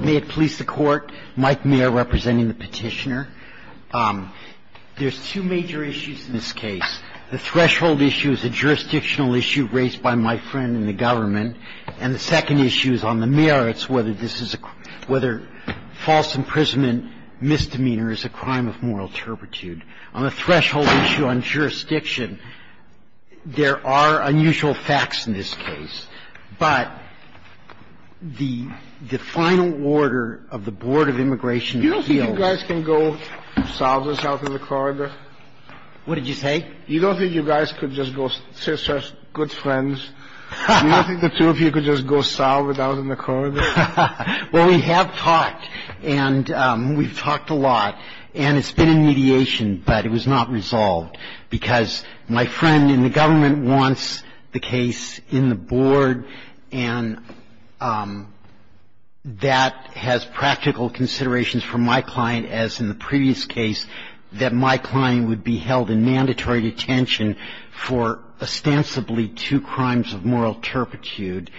May it please the Court, Mike Mayer representing the petitioner. There's two major issues in this case. The threshold issue is a jurisdictional issue raised by my friend in the government. And the second issue is on the merits, whether this is a – whether false imprisonment misdemeanor is a crime of moral turpitude. On the threshold issue on jurisdiction, there are unusual facts in this case. But the – the final order of the Board of Immigration appeals – You don't think you guys can go south and south in the corridor? What did you say? You don't think you guys could just go say such good friends? You don't think the two of you could just go south and out in the corridor? Well, we have talked, and we've talked a lot. And it's been in mediation, but it was not resolved, because my friend in the government wants the case in the board. And that has practical considerations for my client, as in the previous case, that my client would be held in mandatory detention for ostensibly two crimes of moral turpitude.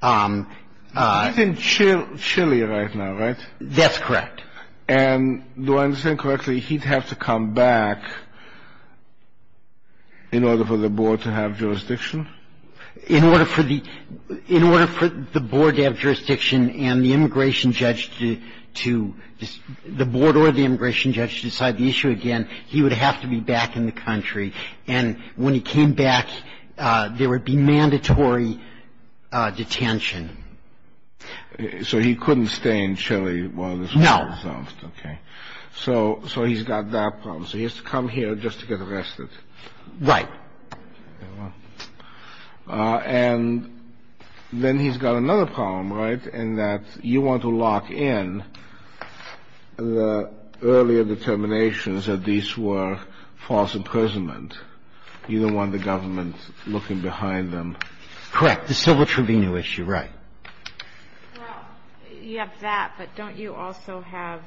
He's in Chile right now, right? That's correct. And do I understand correctly, he'd have to come back in order for the board to have jurisdiction? In order for the – in order for the board to have jurisdiction and the immigration judge to – the board or the immigration judge to decide the issue again, he would have to be back in the country. And when he came back, there would be mandatory detention. So he couldn't stay in Chile while this was resolved? No. Okay. So he's got that problem. So he has to come here just to get arrested. Right. And then he's got another problem, right, in that you want to lock in the earlier determinations that these were false imprisonment. You don't want the government looking behind them. Correct. The civil tribunal issue, right. Well, you have that, but don't you also have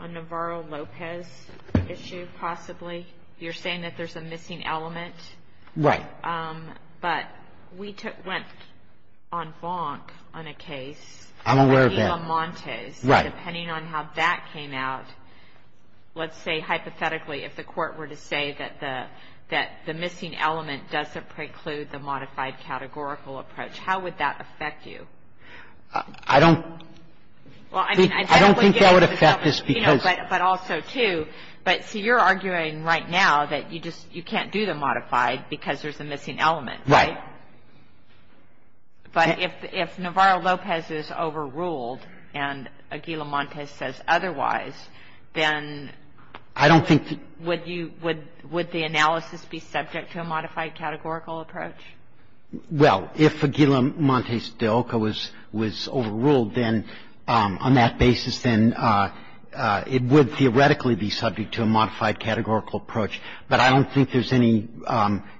a Navarro-Lopez issue, possibly? You're saying that there's a missing element? Right. But we took – went on Fonk on a case. I'm aware of that. On Montes. Right. Depending on how that came out, let's say hypothetically if the Court were to say that the – that the missing element doesn't preclude the modified categorical approach, how would that affect you? I don't – Well, I mean, I don't want to get into the subject, you know, but also, too. But, see, you're arguing right now that you just – you can't do the modified because there's a missing element, right? Right. But if Navarro-Lopez is overruled and Aguila-Montes says otherwise, then would you – would the analysis be subject to a modified categorical approach? Well, if Aguila-Montes de Oca was overruled, then on that basis, then it would theoretically be subject to a modified categorical approach. But I don't think there's any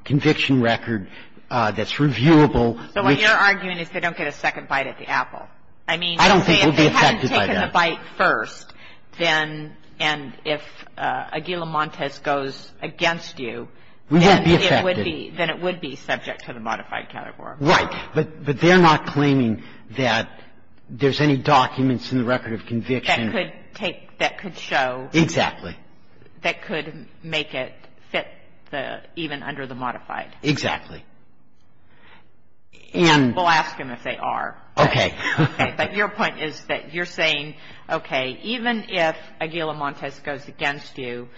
conviction record that's reviewable which – So what you're arguing is they don't get a second bite at the apple. I mean – I don't think we'd be affected by that. If they hadn't taken the bite first, then – and if Aguila-Montes goes against you, then it would be – We wouldn't be affected. Then it would be subject to the modified categorical approach. Right. But they're not claiming that there's any documents in the record of conviction that could take – that could show – Exactly. That could make it fit the – even under the modified. Exactly. And – We'll ask them if they are. Okay. Okay. But your point is that you're saying, okay, even if Aguila-Montes goes against you,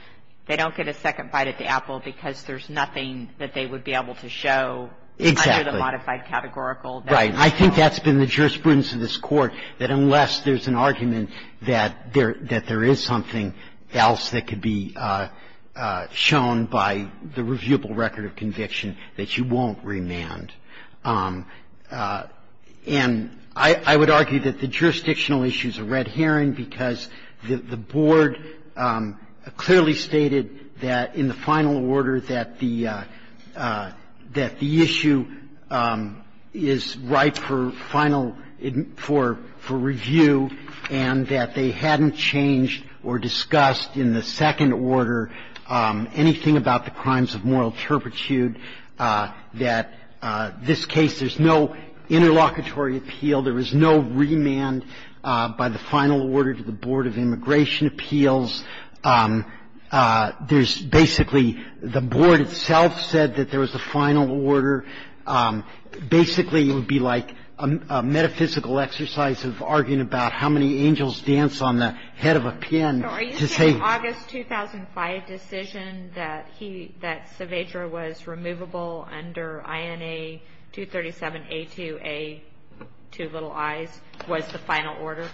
they don't get a second bite at the apple because there's nothing that they would be able to show under the modified categorical. Right. I think that's been the jurisprudence of this Court, that unless there's an argument that there – that there is something else that could be shown by the reviewable record of conviction that you won't remand. And I would argue that the jurisdictional issue is a red herring because the Board clearly stated that in the final order that the – that the issue is ripe for final – for review and that they hadn't changed or discussed in the second order anything about the crimes of moral turpitude, that this case, there's no interlocutory appeal, there was no remand by the final order to the Board of Immigration Appeals. There's basically – the Board itself said that there was a final order. Basically, it would be like a metaphysical exercise of arguing about how many angels dance on the head of a pin to say – So are you saying the August 2005 decision that he – that Saavedra was removable under INA 237A2A, two little I's, was the final order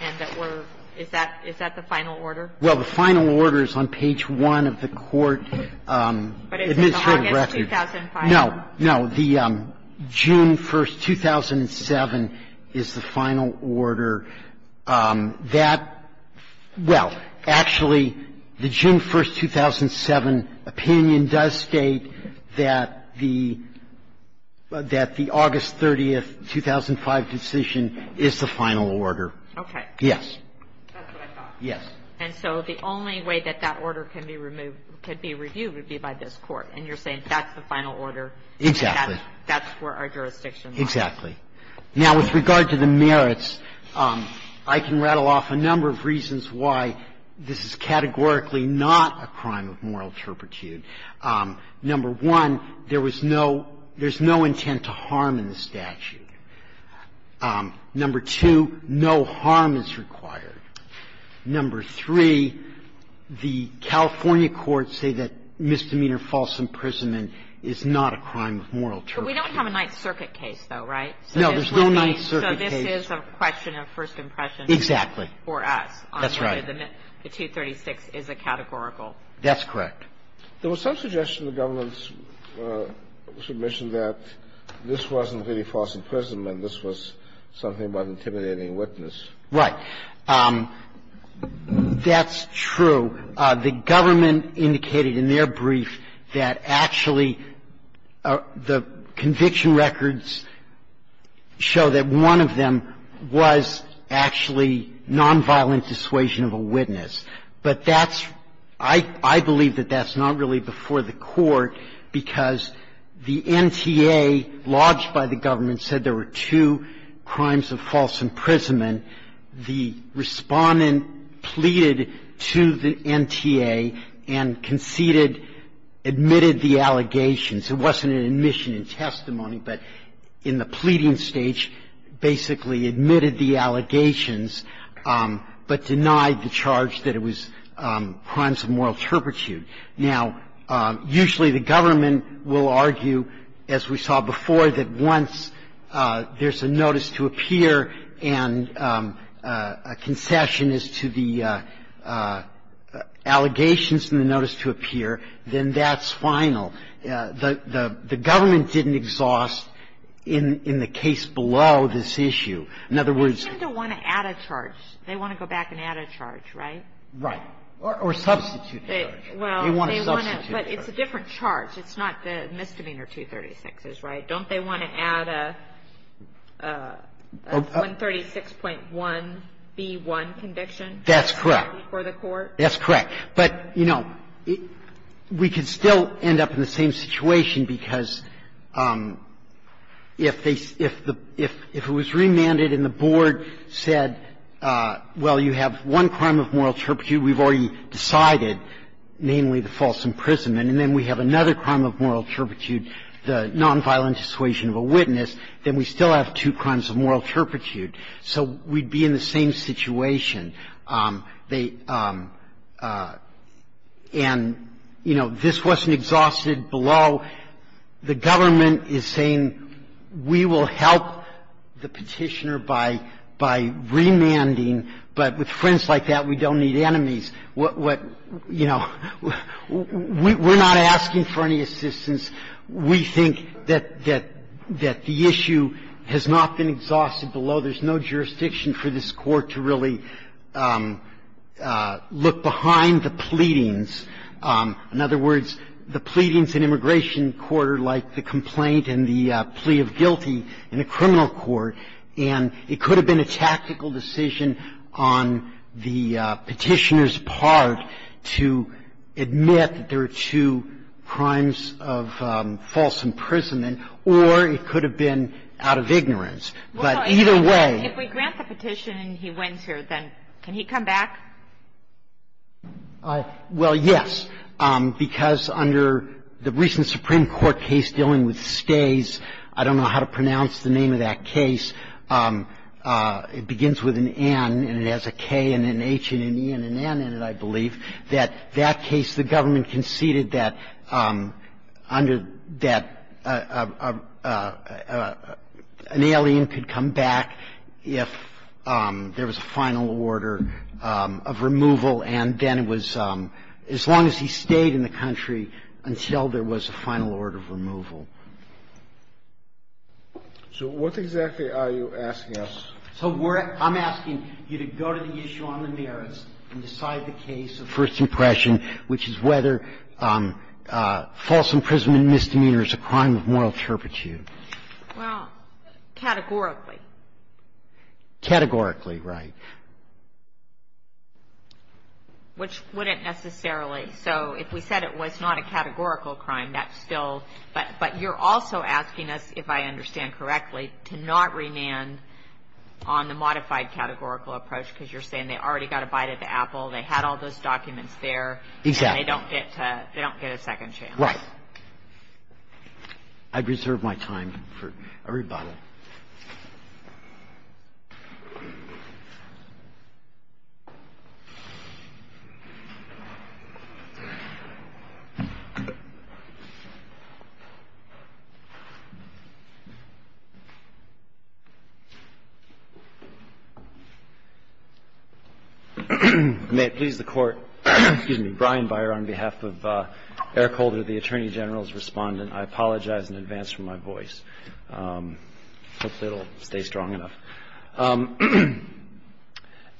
and that we're – is that – is that the final order? Well, the final order is on page 1 of the Court administrative record. But it's the August 2005 – No. No. The June 1, 2007, is the final order that – well, actually, the June 1, 2007 opinion does state that the – that the August 30, 2005 decision is the final order. Okay. Yes. That's what I thought. Yes. And so the only way that that order can be removed – could be reviewed would be by this Court. And you're saying that's the final order. Exactly. That's where our jurisdiction lies. Exactly. Now, with regard to the merits, I can rattle off a number of reasons why this is categorically not a crime of moral turpitude. Number one, there was no – there's no intent to harm in the statute. Number two, no harm is required. Number three, the California courts say that misdemeanor false imprisonment is not a crime of moral turpitude. But we don't have a Ninth Circuit case, though, right? No. There's no Ninth Circuit case. So this is a question of first impression for us on whether the 236 is a categorical That's correct. There was some suggestion in the government's submission that this wasn't really false imprisonment. This was something about intimidating witness. Right. That's true. The government indicated in their brief that actually the conviction records show that one of them was actually nonviolent dissuasion of a witness. But that's – I believe that that's not really before the Court, because the NTA lodged by the government said there were two crimes of false imprisonment. The Respondent pleaded to the NTA and conceded – admitted the allegations. It wasn't an admission in testimony, but in the pleading stage, basically admitted the allegations, but denied the charge that it was crimes of moral turpitude. Now, usually the government will argue, as we saw before, that once there's a notice to appear and a concession is to the allegations in the notice to appear, then that's final. The government didn't exhaust in the case below this issue. In other words – They tend to want to add a charge. They want to go back and add a charge, right? Right. Or substitute a charge. They want to substitute a charge. But it's a different charge. It's not the misdemeanor 236, right? Don't they want to add a 136.1b1 conviction? That's correct. Before the Court? That's correct. But, you know, we could still end up in the same situation, because if they – if it was remanded and the board said, well, you have one crime of moral turpitude, we've already decided, namely the false imprisonment, and then we have another crime of moral turpitude, the nonviolent dissuasion of a witness, then we still have two crimes of moral turpitude, so we'd be in the same situation. They – and, you know, this wasn't exhausted below the government is saying, we will help the Petitioner by remanding, but with friends like that, we don't need enemies. What – you know, we're not asking for any assistance. We think that the issue has not been exhausted below. There's no jurisdiction for this Court to really look behind the pleadings. In other words, the pleadings in immigration court are like the complaint and the plea of guilty in a criminal court, and it could have been a tactical decision on the Petitioner's part to admit that there are two crimes of false imprisonment, or it could have been out of ignorance. But either way – If we grant the Petitioner and he wins here, then can he come back? Well, yes, because under the recent Supreme Court case dealing with stays, I don't know how to pronounce the name of that case. It begins with an N, and it has a K and an H and an E and an N in it, I believe, that that case the government conceded that under – that an alien could come back if there was a final order of removal, and then it was – as long as he stayed in the country until there was a final order of removal. So what exactly are you asking us? So we're – I'm asking you to go to the issue on the merits and decide the case of first impression, which is whether false imprisonment and misdemeanor is a crime of moral turpitude. Well, categorically. Categorically, right. Which wouldn't necessarily – so if we said it was not a categorical crime, that's still – but you're also asking us, if I understand correctly, to not remand on the modified categorical approach, because you're saying they already got a bite at the apple, they had all those documents there, and they don't get to – they don't get a second chance. Right. I'd reserve my time for a rebuttal. May it please the Court, excuse me, Brian Beyer on behalf of Eric Holder, the Attorney General's Respondent. I apologize in advance for my voice. Hopefully, it will stay strong enough.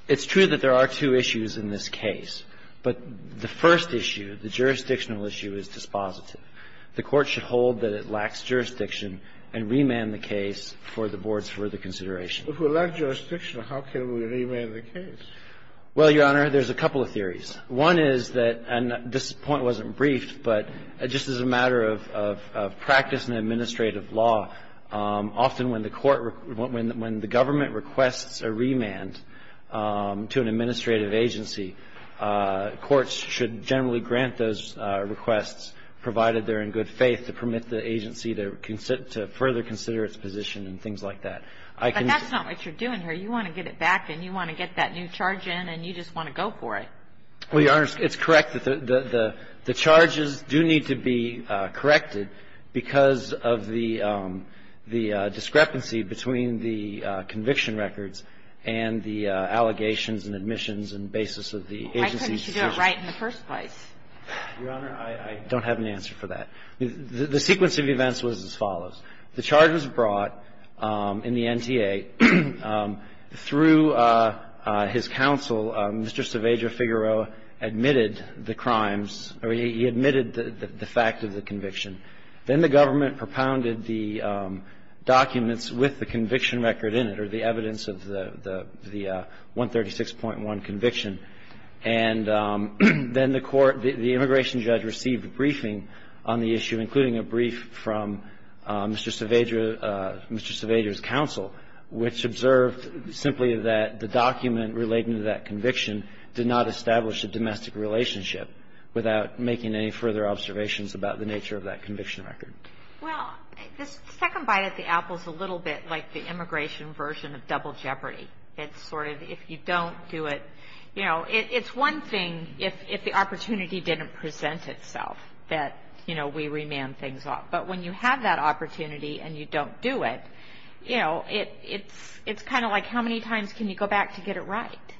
It's true that there are two issues in this case, but the first issue, the jurisdictional issue, is dispositive. The Court should hold that it lacks jurisdiction and remand the case for the Board's further consideration. But if we lack jurisdiction, how can we remand the case? Well, Your Honor, there's a couple of theories. One is that – and this point wasn't briefed, but just as a matter of – of practice in administrative law, often when the Court – when the Government requests a remand to an administrative agency, courts should generally grant those requests, provided they're in good faith, to permit the agency to further consider its position and things like that. But that's not what you're doing here. You want to get it back, and you want to get that new charge in, and you just want to go for it. Well, Your Honor, it's correct that the – the charges do need to be corrected because of the – the discrepancy between the conviction records and the allegations and admissions and basis of the agency's position. Why couldn't you do it right in the first place? Your Honor, I don't have an answer for that. The sequence of events was as follows. The charge was brought in the NTA through his counsel, Mr. Cerveja-Figueroa, admitted the crimes – or he admitted the fact of the conviction. Then the Government propounded the documents with the conviction record in it, or the evidence of the – the 136.1 conviction. And then the Court – the immigration judge received a briefing on the issue, including a brief from Mr. Cerveja – Mr. Cerveja's counsel, which observed simply that the document relating to that conviction did not establish a domestic relationship without making any further observations about the nature of that conviction record. Well, the second bite at the apple is a little bit like the immigration version of double jeopardy. It's sort of if you don't do it – you know, it's one thing if the opportunity didn't present itself that, you know, we remand things off. But when you have that opportunity and you don't do it, you know, it's kind of like how many times can you go back to get it right?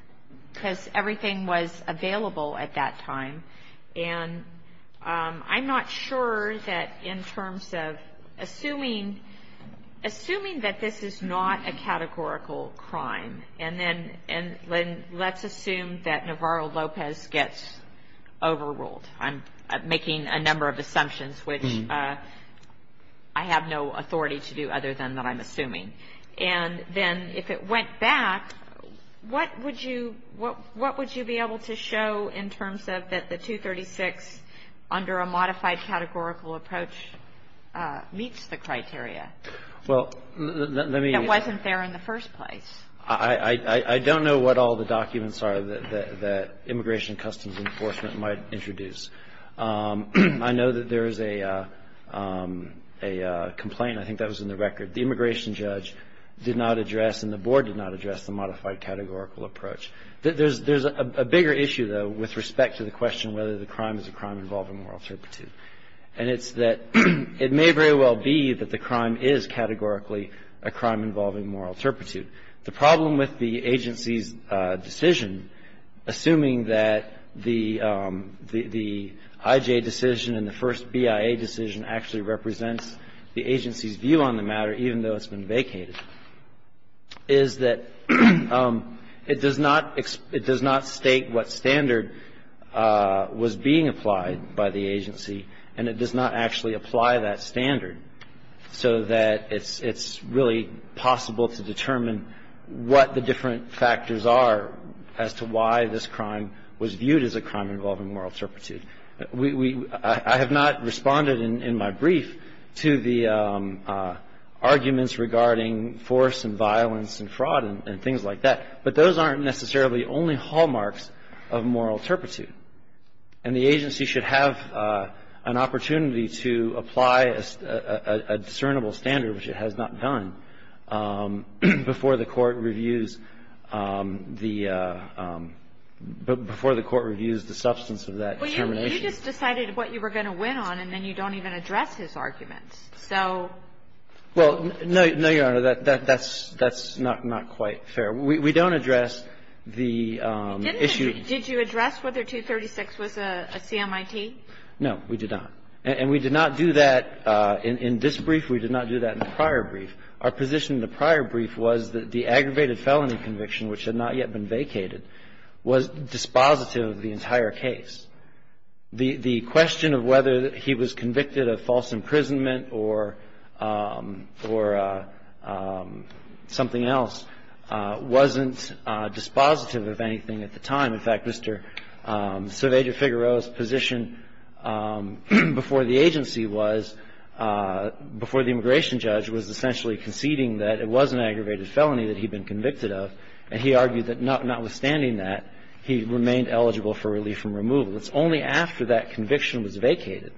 Because everything was available at that time. And I'm not sure that in terms of assuming – assuming that this is not a categorical crime, and then – and then let's assume that Navarro-Lopez gets overruled. I'm making a number of assumptions, which I have no authority to do other than that I'm assuming. And then if it went back, what would you – what would you be able to show in terms of that the 236 under a modified categorical approach meets the criteria that wasn't there in the first place? I – I don't know what all the documents are that – that Immigration Customs Enforcement might introduce. I know that there is a – a complaint. I think that was in the record. The immigration judge did not address and the board did not address the modified categorical approach. There's – there's a bigger issue, though, with respect to the question whether the crime is a crime involving moral turpitude. And it's that it may very well be that the crime is categorically a crime involving moral turpitude. The problem with the agency's decision, assuming that the – the IJ decision and the first BIA decision actually represents the agency's view on the matter, even though it's been vacated, is that it does not – it does not state what standard was being applied by the agency and it does not actually apply that standard so that it's – it's really possible to determine what the different factors are as to why this crime was viewed as a crime involving moral turpitude. I have not responded in my brief to the arguments regarding force and violence and fraud and things like that. But those aren't necessarily only hallmarks of moral turpitude. And the agency should have an opportunity to apply a discernible standard, which it has not done, before the Court reviews the – before the Court reviews the substance of that determination. Well, you just decided what you were going to win on and then you don't even address his arguments. So – Well, no, Your Honor, that's – that's not – not quite fair. We don't address the issue – Didn't you – did you address whether 236 was a CMIT? No, we did not. And we did not do that – in this brief, we did not do that in the prior brief. Our position in the prior brief was that the aggravated felony conviction, which had not yet been vacated, was dispositive of the entire case. The question of whether he was convicted of false imprisonment or – or something else wasn't dispositive of anything at the time. In fact, Mr. Cerveja-Figueroa's position before the agency was – before the immigration judge was essentially conceding that it was an aggravated felony that he'd been convicted of. And he argued that notwithstanding that, he remained eligible for relief from removal. It's only after that conviction was vacated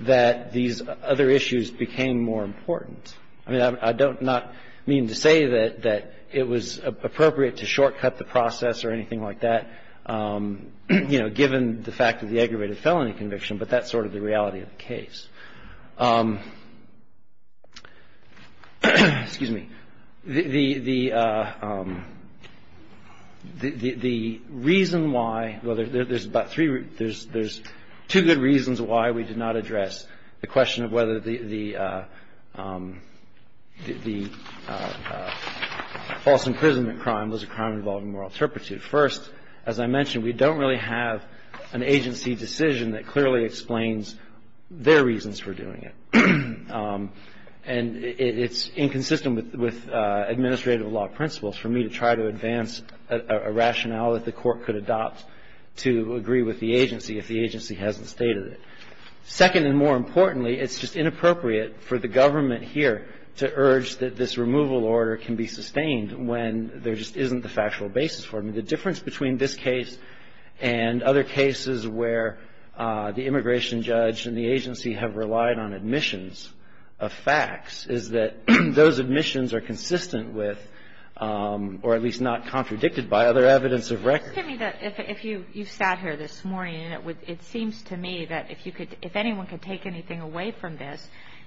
that these other issues became more important. I mean, I don't not mean to say that – that it was appropriate to shortcut the process or anything like that, you know, given the fact that the aggravated felony conviction, but that's sort of the reality of the case. Excuse me. The reason why – well, there's about three – there's two good reasons why we did not address the question of whether the – the false imprisonment crime was a crime involving moral turpitude. First, as I mentioned, we don't really have an agency decision that clearly explains their reasons for doing it. And it's inconsistent with administrative law principles for me to try to advance a rationale that the Court could adopt to agree with the agency if the agency hasn't stated it. Second, and more importantly, it's just inappropriate for the government here to urge that this removal order can be sustained when there just isn't the factual basis for it. I mean, the difference between this case and other cases where the immigration judge and the agency have relied on admissions of facts is that those admissions are consistent with – or at least not contradicted by other evidence of record. It seems to me that if you – you sat here this morning, and it would – it seems to me that if you could – if anyone could take anything away from this,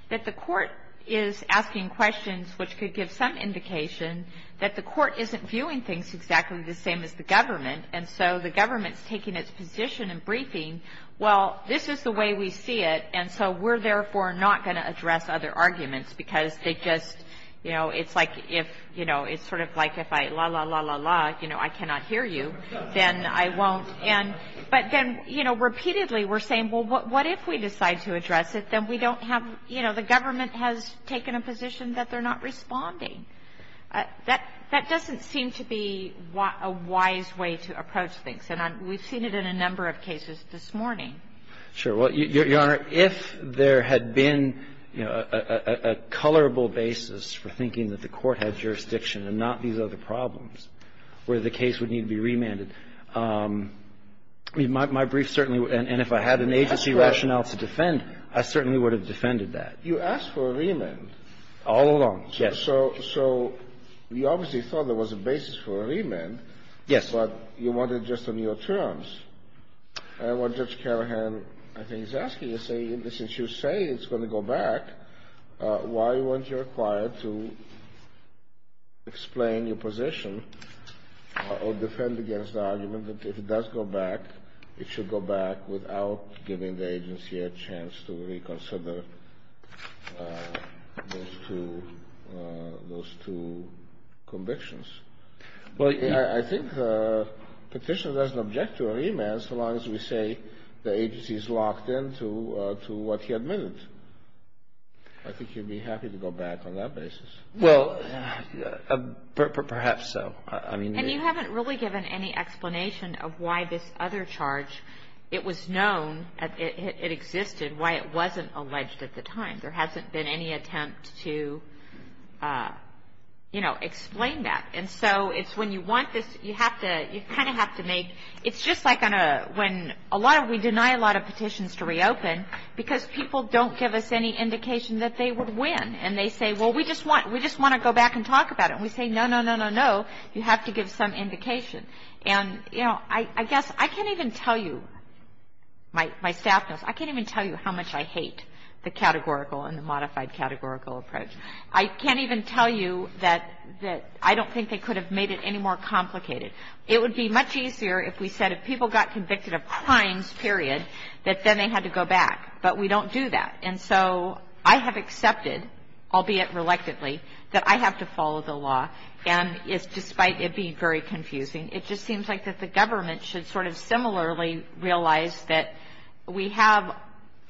that the Court is asking questions which could give some indication that the Court isn't viewing things exactly the same as the government, and so the government's taking its position in briefing, well, this is the way we see it, and so we're therefore not going to address other arguments because they just – you know, it's like if – you know, it's sort of like if I, la, la, la, la, la, you know, I cannot hear you, then I won't. And – but then, you know, repeatedly we're saying, well, what if we decide to address it, then we don't have – you know, the government has taken a position that they're not responding. That doesn't seem to be a wise way to approach things, and I'm – we've seen it in a number of cases this morning. Sure. Well, Your Honor, if there had been, you know, a colorable basis for thinking that the Court had jurisdiction and not these other problems, where the case would need to be remanded, my brief certainly would – and if I had an agency rationale to defend, I certainly would have defended that. You asked for a remand. All along, yes. So – so you obviously thought there was a basis for a remand. Yes. But you wanted just on your terms. And what Judge Carahan, I think, is asking is saying, since you say it's going to go back, why weren't you required to explain your position or defend against the argument that if it does go back, it should go back without giving the agency a chance to reconsider those two – those two convictions? Well, I think the Petitioner doesn't object to a remand so long as we say the agency is I think you'd be happy to go back on that basis. Well, perhaps so. I mean – And you haven't really given any explanation of why this other charge, it was known, it existed, why it wasn't alleged at the time. There hasn't been any attempt to, you know, explain that. And so it's when you want this, you have to – you kind of have to make – it's just like on a – when a lot of – we deny a lot of petitions to reopen because people don't give us any indication that they would win. And they say, well, we just want – we just want to go back and talk about it. And we say, no, no, no, no, no, you have to give some indication. And you know, I guess I can't even tell you – my staff knows – I can't even tell you how much I hate the categorical and the modified categorical approach. I can't even tell you that I don't think they could have made it any more complicated. It would be much easier if we said if people got convicted of crimes, period, that then they had to go back. But we don't do that. And so I have accepted, albeit reluctantly, that I have to follow the law. And it's – despite it being very confusing, it just seems like that the government should sort of similarly realize that we have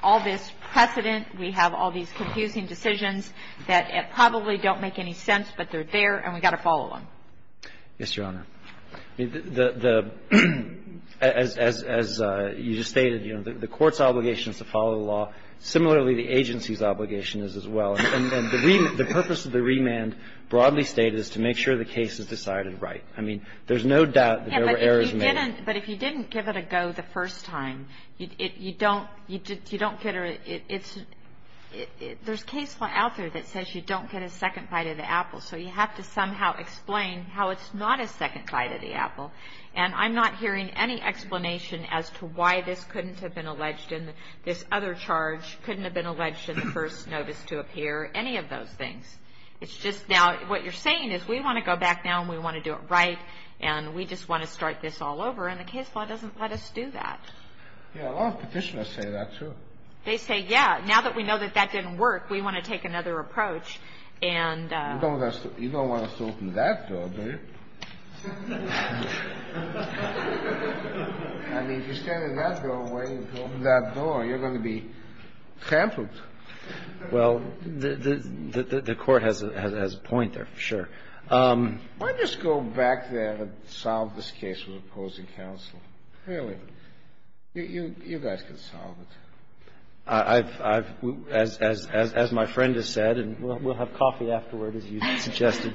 all this precedent, we have all these confusing decisions that probably don't make any sense, but they're there, and we've got to follow them. Yes, Your Honor. The – as you just stated, you know, the court's obligation is to follow the law. Similarly, the agency's obligation is as well. And the purpose of the remand broadly stated is to make sure the case is decided right. I mean, there's no doubt that there were errors made. But if you didn't give it a go the first time, you don't – you don't get a – it's – there's case law out there that says you don't get a second bite of the apple. So you have to somehow explain how it's not a second bite of the apple. And I'm not hearing any explanation as to why this couldn't have been alleged in this other charge, couldn't have been alleged in the first notice to appear, any of those things. It's just now – what you're saying is we want to go back now and we want to do it right, and we just want to start this all over. And the case law doesn't let us do that. Yeah, a lot of petitioners say that, too. They say, yeah, now that we know that that didn't work, we want to take another approach and – You don't want us to open that door, do you? I mean, if you stand in that doorway and open that door, you're going to be hampered. Well, the Court has a point there, sure. Why don't you just go back there and solve this case with opposing counsel? Really. You guys can solve it. I've – as my friend has said, and we'll have coffee afterward, as you suggested,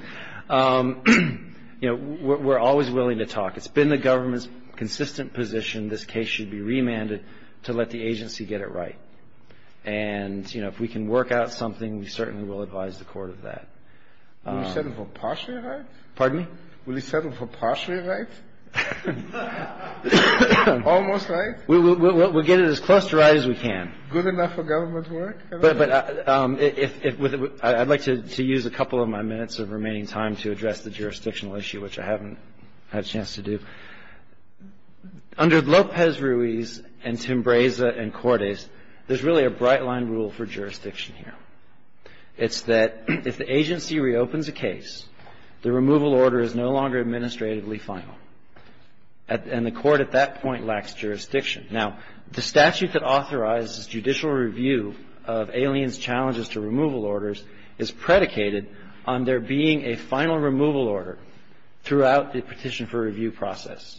you know, we're always willing to talk. It's been the government's consistent position this case should be remanded to let the agency get it right. And, you know, if we can work out something, we certainly will advise the Court of that. Will you settle for partially right? Pardon me? Will you settle for partially right? Almost right? We'll get it as close to right as we can. Good enough for government to work? But I'd like to use a couple of my minutes of remaining time to address the jurisdictional issue, which I haven't had a chance to do. Under Lopez-Ruiz and Timbreza and Cordes, there's really a bright-line rule for jurisdiction here. It's that if the agency reopens a case, the removal order is no longer administratively final. And the Court at that point lacks jurisdiction. Now, the statute that authorizes judicial review of aliens' challenges to removal orders is predicated on there being a final removal order throughout the petition for review process.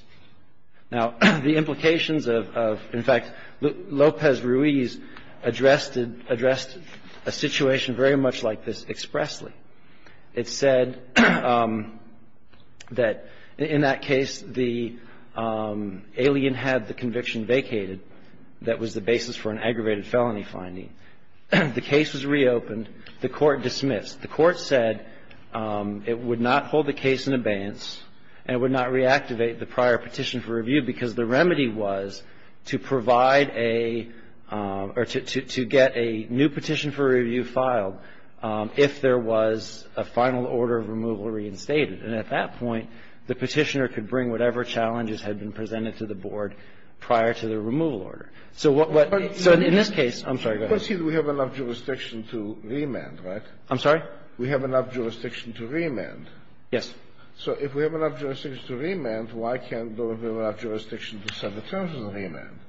Now, the implications of – in fact, Lopez-Ruiz addressed a situation very much like this expressly. It said that in that case, the alien had the conviction vacated. That was the basis for an aggravated felony finding. The case was reopened. The Court dismissed. The Court said it would not hold the case in abeyance and would not reactivate the prior petition for review because the remedy was to provide a – or to get a new petition for review filed if there was a final order of removal reinstated. And at that point, the petitioner could bring whatever challenges had been presented to the board prior to the removal order. So what – so in this case – I'm sorry. Go ahead. Kennedy. But see, we have enough jurisdiction to remand, right? I'm sorry? We have enough jurisdiction to remand. Yes. So if we have enough jurisdiction to remand, why can't there be enough jurisdiction to set the terms of the remand?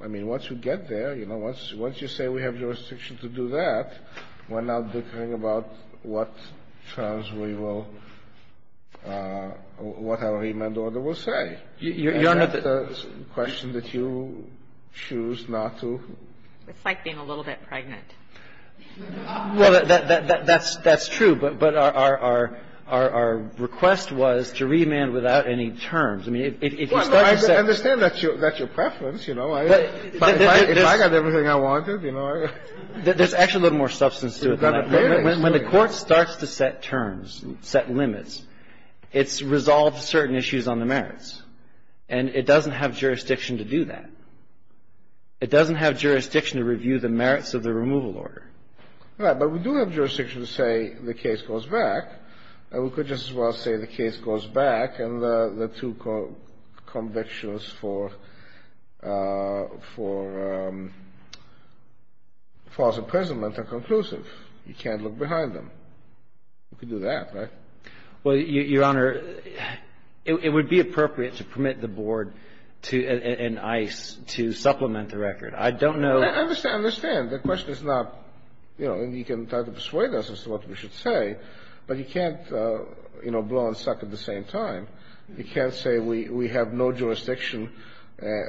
I mean, once you get there, you know, once you say we have jurisdiction to do that, we're not bickering about what terms we will – what our remand order will say. Your Honor, the question that you choose not to – It's like being a little bit pregnant. Well, that's – that's true, but our request was to remand without any terms. I mean, if you start to set – I understand that's your preference, you know. If I got everything I wanted, you know, I – There's actually a little more substance to it than that. When the Court starts to set terms, set limits, it's resolved certain issues on the merits. And it doesn't have jurisdiction to do that. It doesn't have jurisdiction to review the merits of the removal order. Right. But we do have jurisdiction to say the case goes back. And we could just as well say the case goes back and the two convictions for false imprisonment are conclusive. You can't look behind them. You could do that, right? Well, Your Honor, it would be appropriate to permit the Board to – and ICE to supplement the record. I don't know – I understand. The question is not – you know, and you can try to persuade us as to what we should say, but you can't, you know, blow and suck at the same time. You can't say we have no jurisdiction,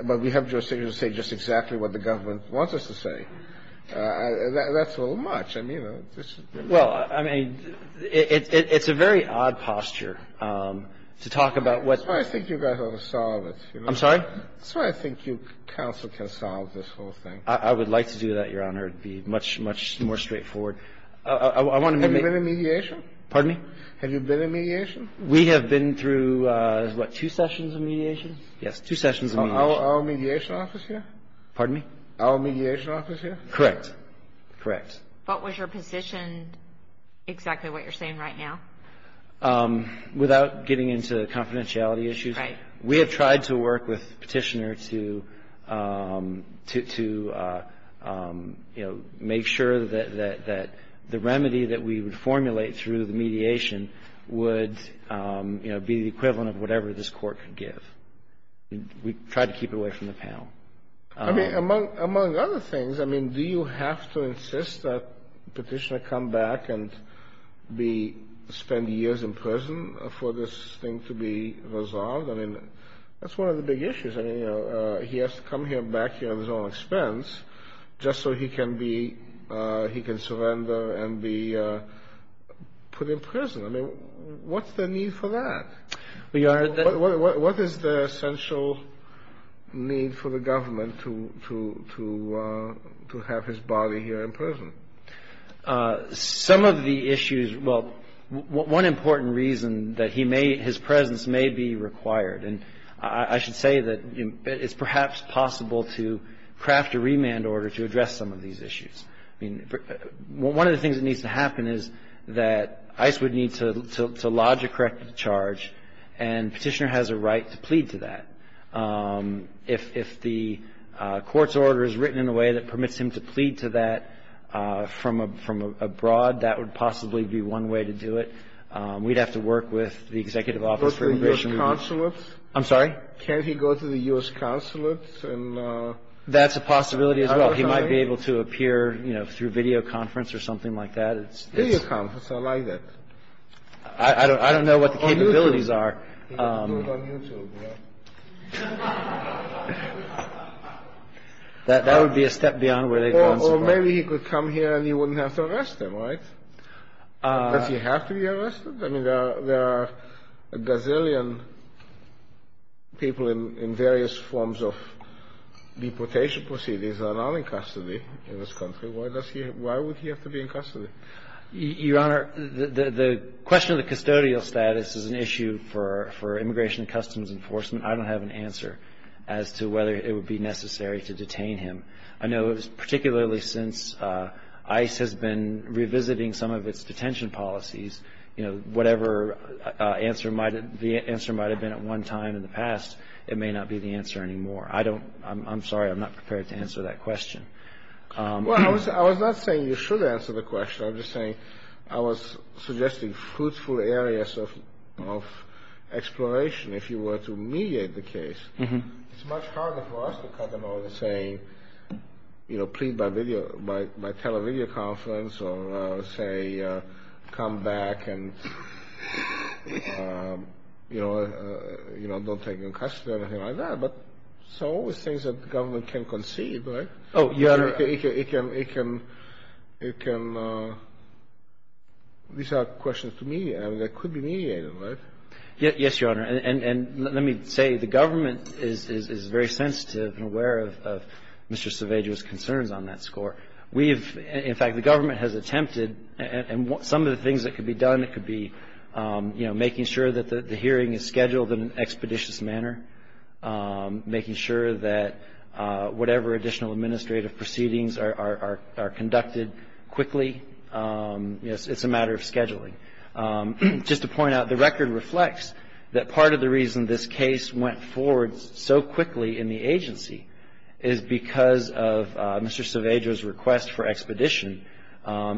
but we have jurisdiction to say just exactly what the government wants us to say. That's a little much. I mean, this is – Well, I mean, it's a very odd posture to talk about what – That's why I think you guys ought to solve it. I'm sorry? That's why I think you counsel can solve this whole thing. I would like to do that, Your Honor. It would be much, much more straightforward. I want to make – Have you been in mediation? Pardon me? Have you been in mediation? We have been through, what, two sessions of mediation? Yes, two sessions of mediation. Our mediation office here? Pardon me? Our mediation office here? Correct. Correct. But was your position exactly what you're saying right now? Without getting into confidentiality issues – Right. We have tried to work with Petitioner to, you know, make sure that the remedy that we would formulate through the mediation would, you know, be the equivalent of whatever this Court could give. We tried to keep it away from the panel. I mean, among other things, I mean, do you have to insist that Petitioner come back and be – spend years in prison for this thing to be resolved? That's one of the big issues. I mean, he has to come back here on his own expense just so he can be – he can surrender and be put in prison. I mean, what's the need for that? What is the essential need for the government to have his body here in prison? Some of the issues – well, one important reason that he may – his presence may be required. And I should say that it's perhaps possible to craft a remand order to address some of these issues. I mean, one of the things that needs to happen is that ICE would need to lodge a corrective charge, and Petitioner has a right to plead to that. If the Court's order is written in a way that permits him to plead to that from abroad, that would possibly be one way to do it. We'd have to work with the Executive Office for Immigration – Can he go to the U.S. consulate? I'm sorry? Can he go to the U.S. consulate and – That's a possibility as well. He might be able to appear, you know, through video conference or something like that. Video conference? I like that. I don't know what the capabilities are. He can do it on YouTube. Yeah. That would be a step beyond where they'd consider. Or maybe he could come here and you wouldn't have to arrest him, right? Does he have to be arrested? I mean, there are a gazillion people in various forms of deportation proceedings that are not in custody in this country. Why would he have to be in custody? Your Honor, the question of the custodial status is an issue for Immigration and Customs Enforcement. I don't have an answer as to whether it would be necessary to detain him. I know particularly since ICE has been revisiting some of its detention policies, you know, whatever the answer might have been at one time in the past, it may not be the answer anymore. I don't – I'm sorry, I'm not prepared to answer that question. Well, I was not saying you should answer the question. I'm just saying I was suggesting fruitful areas of exploration if you were to mediate the case. It's much harder for us to cut them over to saying, you know, plead by video – by tele-video conference or say come back and, you know, don't take him in custody or anything like that. But there's always things that the government can conceive, right? Oh, Your Honor. It can – these are questions to me. I mean, they could be mediated, right? Yes, Your Honor. And let me say the government is very sensitive and aware of Mr. Cerveja's concerns on that score. We've – in fact, the government has attempted – and some of the things that could be done, it could be, you know, making sure that the hearing is scheduled in an expeditious manner, making sure that whatever additional administrative proceedings are conducted quickly. You know, it's a matter of scheduling. Just to point out, the record reflects that part of the reason this case went forward so quickly in the agency is because of Mr. Cerveja's request for expedition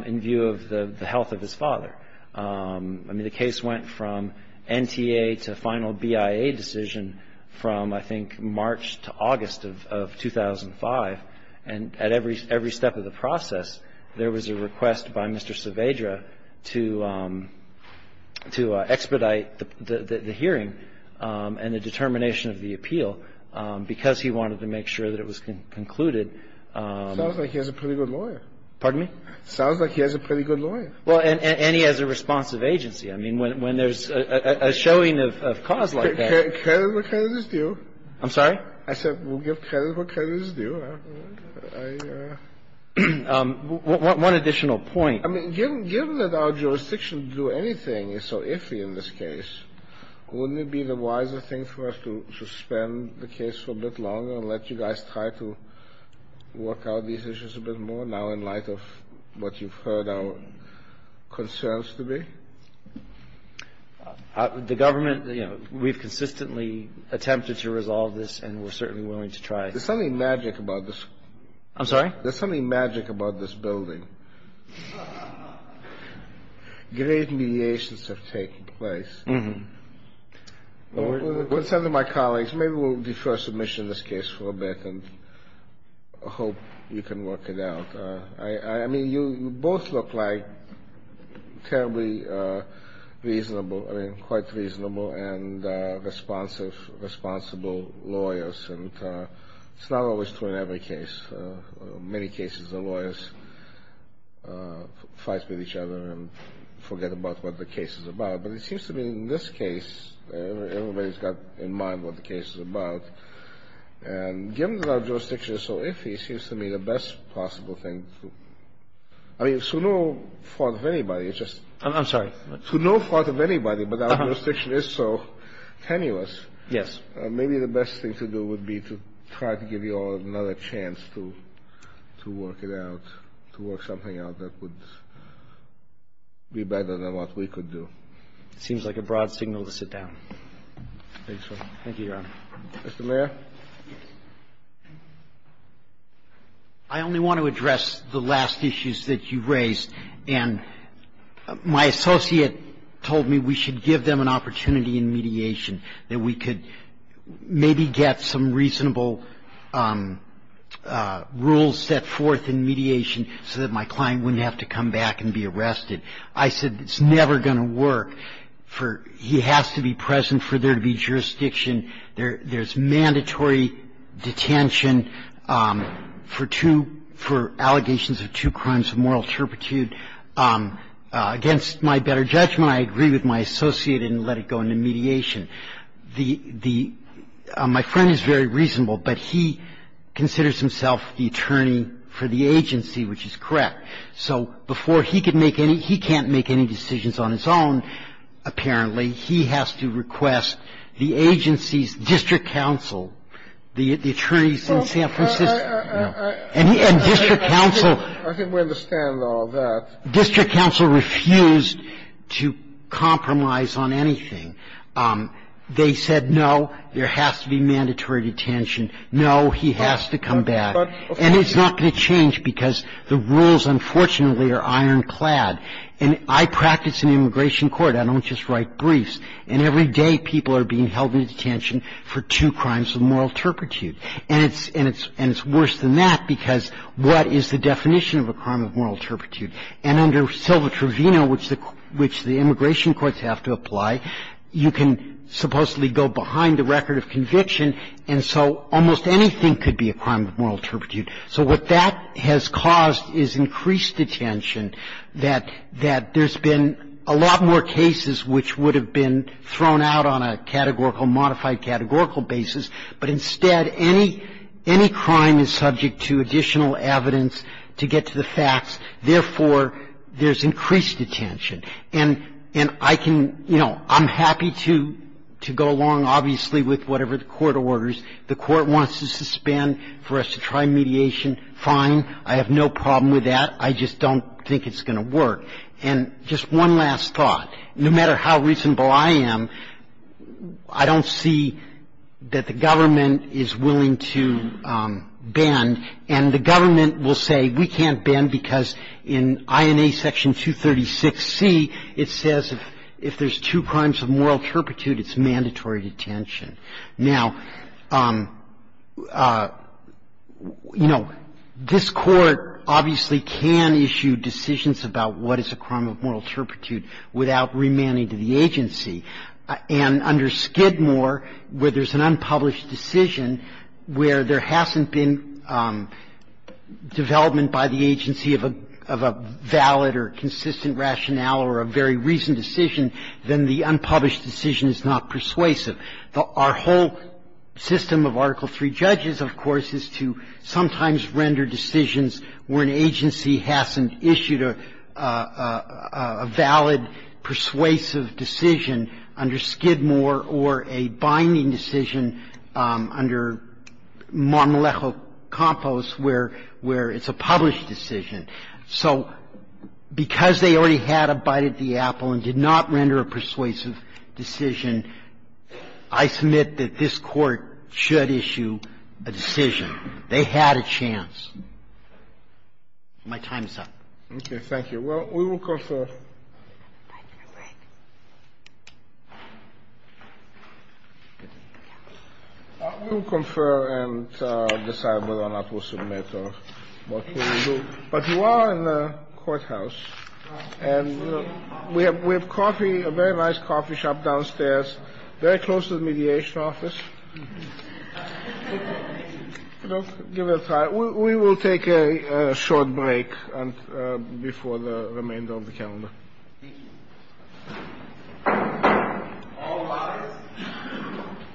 in view of the health of his father. I mean, the case went from NTA to final BIA decision from, I think, March to August of 2005. And at every step of the process, there was a request by Mr. Cerveja to expedite the hearing and the determination of the appeal because he wanted to make sure that it was concluded. It sounds like he has a pretty good lawyer. Pardon me? Sounds like he has a pretty good lawyer. Well, and he has a responsive agency. I mean, when there's a showing of cause like that – Credit what credit is due. I'm sorry? I said we'll give credit what credit is due. I – One additional point. I mean, given that our jurisdiction to do anything is so iffy in this case, wouldn't it be the wiser thing for us to suspend the case for a bit longer and let you guys try to work out these issues a bit more now in light of what you've heard our concerns to be? The government, you know, we've consistently attempted to resolve this, and we're certainly willing to try. There's something magic about this. I'm sorry? There's something magic about this building. Great mediations have taken place. With the consent of my colleagues, maybe we'll defer submission of this case for a bit and hope you can work it out. I mean, you both look like terribly reasonable – I mean, quite reasonable and responsive responsible lawyers, and it's not always true in every case. Many cases the lawyers fight with each other and forget about what the case is about. But it seems to me in this case, everybody's got in mind what the case is about. And given that our jurisdiction is so iffy, it seems to me the best possible thing to – I mean, it's to no fault of anybody. It's just – I'm sorry? To no fault of anybody, but our jurisdiction is so tenuous. Yes. Maybe the best thing to do would be to try to give you all another chance to work it out, to work something out that would be better than what we could do. It seems like a broad signal to sit down. I think so. Thank you, Your Honor. Mr. Mayor? I only want to address the last issues that you raised. And my associate told me we should give them an opportunity in mediation. That we could maybe get some reasonable rules set forth in mediation so that my client wouldn't have to come back and be arrested. I said it's never going to work for – he has to be present for there to be jurisdiction. There's mandatory detention for two – for allegations of two crimes of moral turpitude. Against my better judgment, I agree with my associate and let it go into mediation. The – my friend is very reasonable, but he considers himself the attorney for the agency, which is correct. So before he can make any – he can't make any decisions on his own, apparently. He has to request the agency's district counsel, the attorneys in San Francisco. I think we understand all that. District counsel refused to compromise on anything. They said, no, there has to be mandatory detention. No, he has to come back. And it's not going to change because the rules, unfortunately, are ironclad. And I practice in immigration court. I don't just write briefs. And every day people are being held in detention for two crimes of moral turpitude. And it's – and it's worse than that because what is the definition of a crime of moral turpitude? And under Silva-Trevino, which the – which the immigration courts have to apply, you can supposedly go behind the record of conviction. And so almost anything could be a crime of moral turpitude. So what that has caused is increased detention, that – that there's been a lot more cases which would have been thrown out on a categorical, modified categorical basis, but instead any – any crime is subject to additional evidence to get to the facts. Therefore, there's increased detention. And – and I can – you know, I'm happy to – to go along, obviously, with whatever the court orders. The court wants to suspend for us to try mediation. Fine. I have no problem with that. I just don't think it's going to work. And just one last thought. No matter how reasonable I am, I don't see that the government is willing to bend. And the government will say we can't bend because in INA Section 236C, it says if there's two crimes of moral turpitude, it's mandatory detention. Now, you know, this Court obviously can issue decisions about what is a crime of moral turpitude without remanding to the agency. And under Skidmore, where there's an unpublished decision where there hasn't been development by the agency of a – of a valid or consistent rationale or a very recent decision, then the unpublished decision is not persuasive. Our whole system of Article III judges, of course, is to sometimes render decisions where an agency hasn't issued a valid persuasive decision under Skidmore or a binding decision under Marmolejo-Campos where it's a published decision. So because they already had a bite at the apple and did not render a persuasive decision, I submit that this Court should issue a decision. They had a chance. My time is up. Okay. Thank you. Well, we will confer. We will confer and decide whether or not we'll submit or what we will do. But you are in the courthouse, and we have coffee, a very nice coffee shop downstairs, very close to the mediation office. We will take a short break before the remainder of the calendar. Thank you.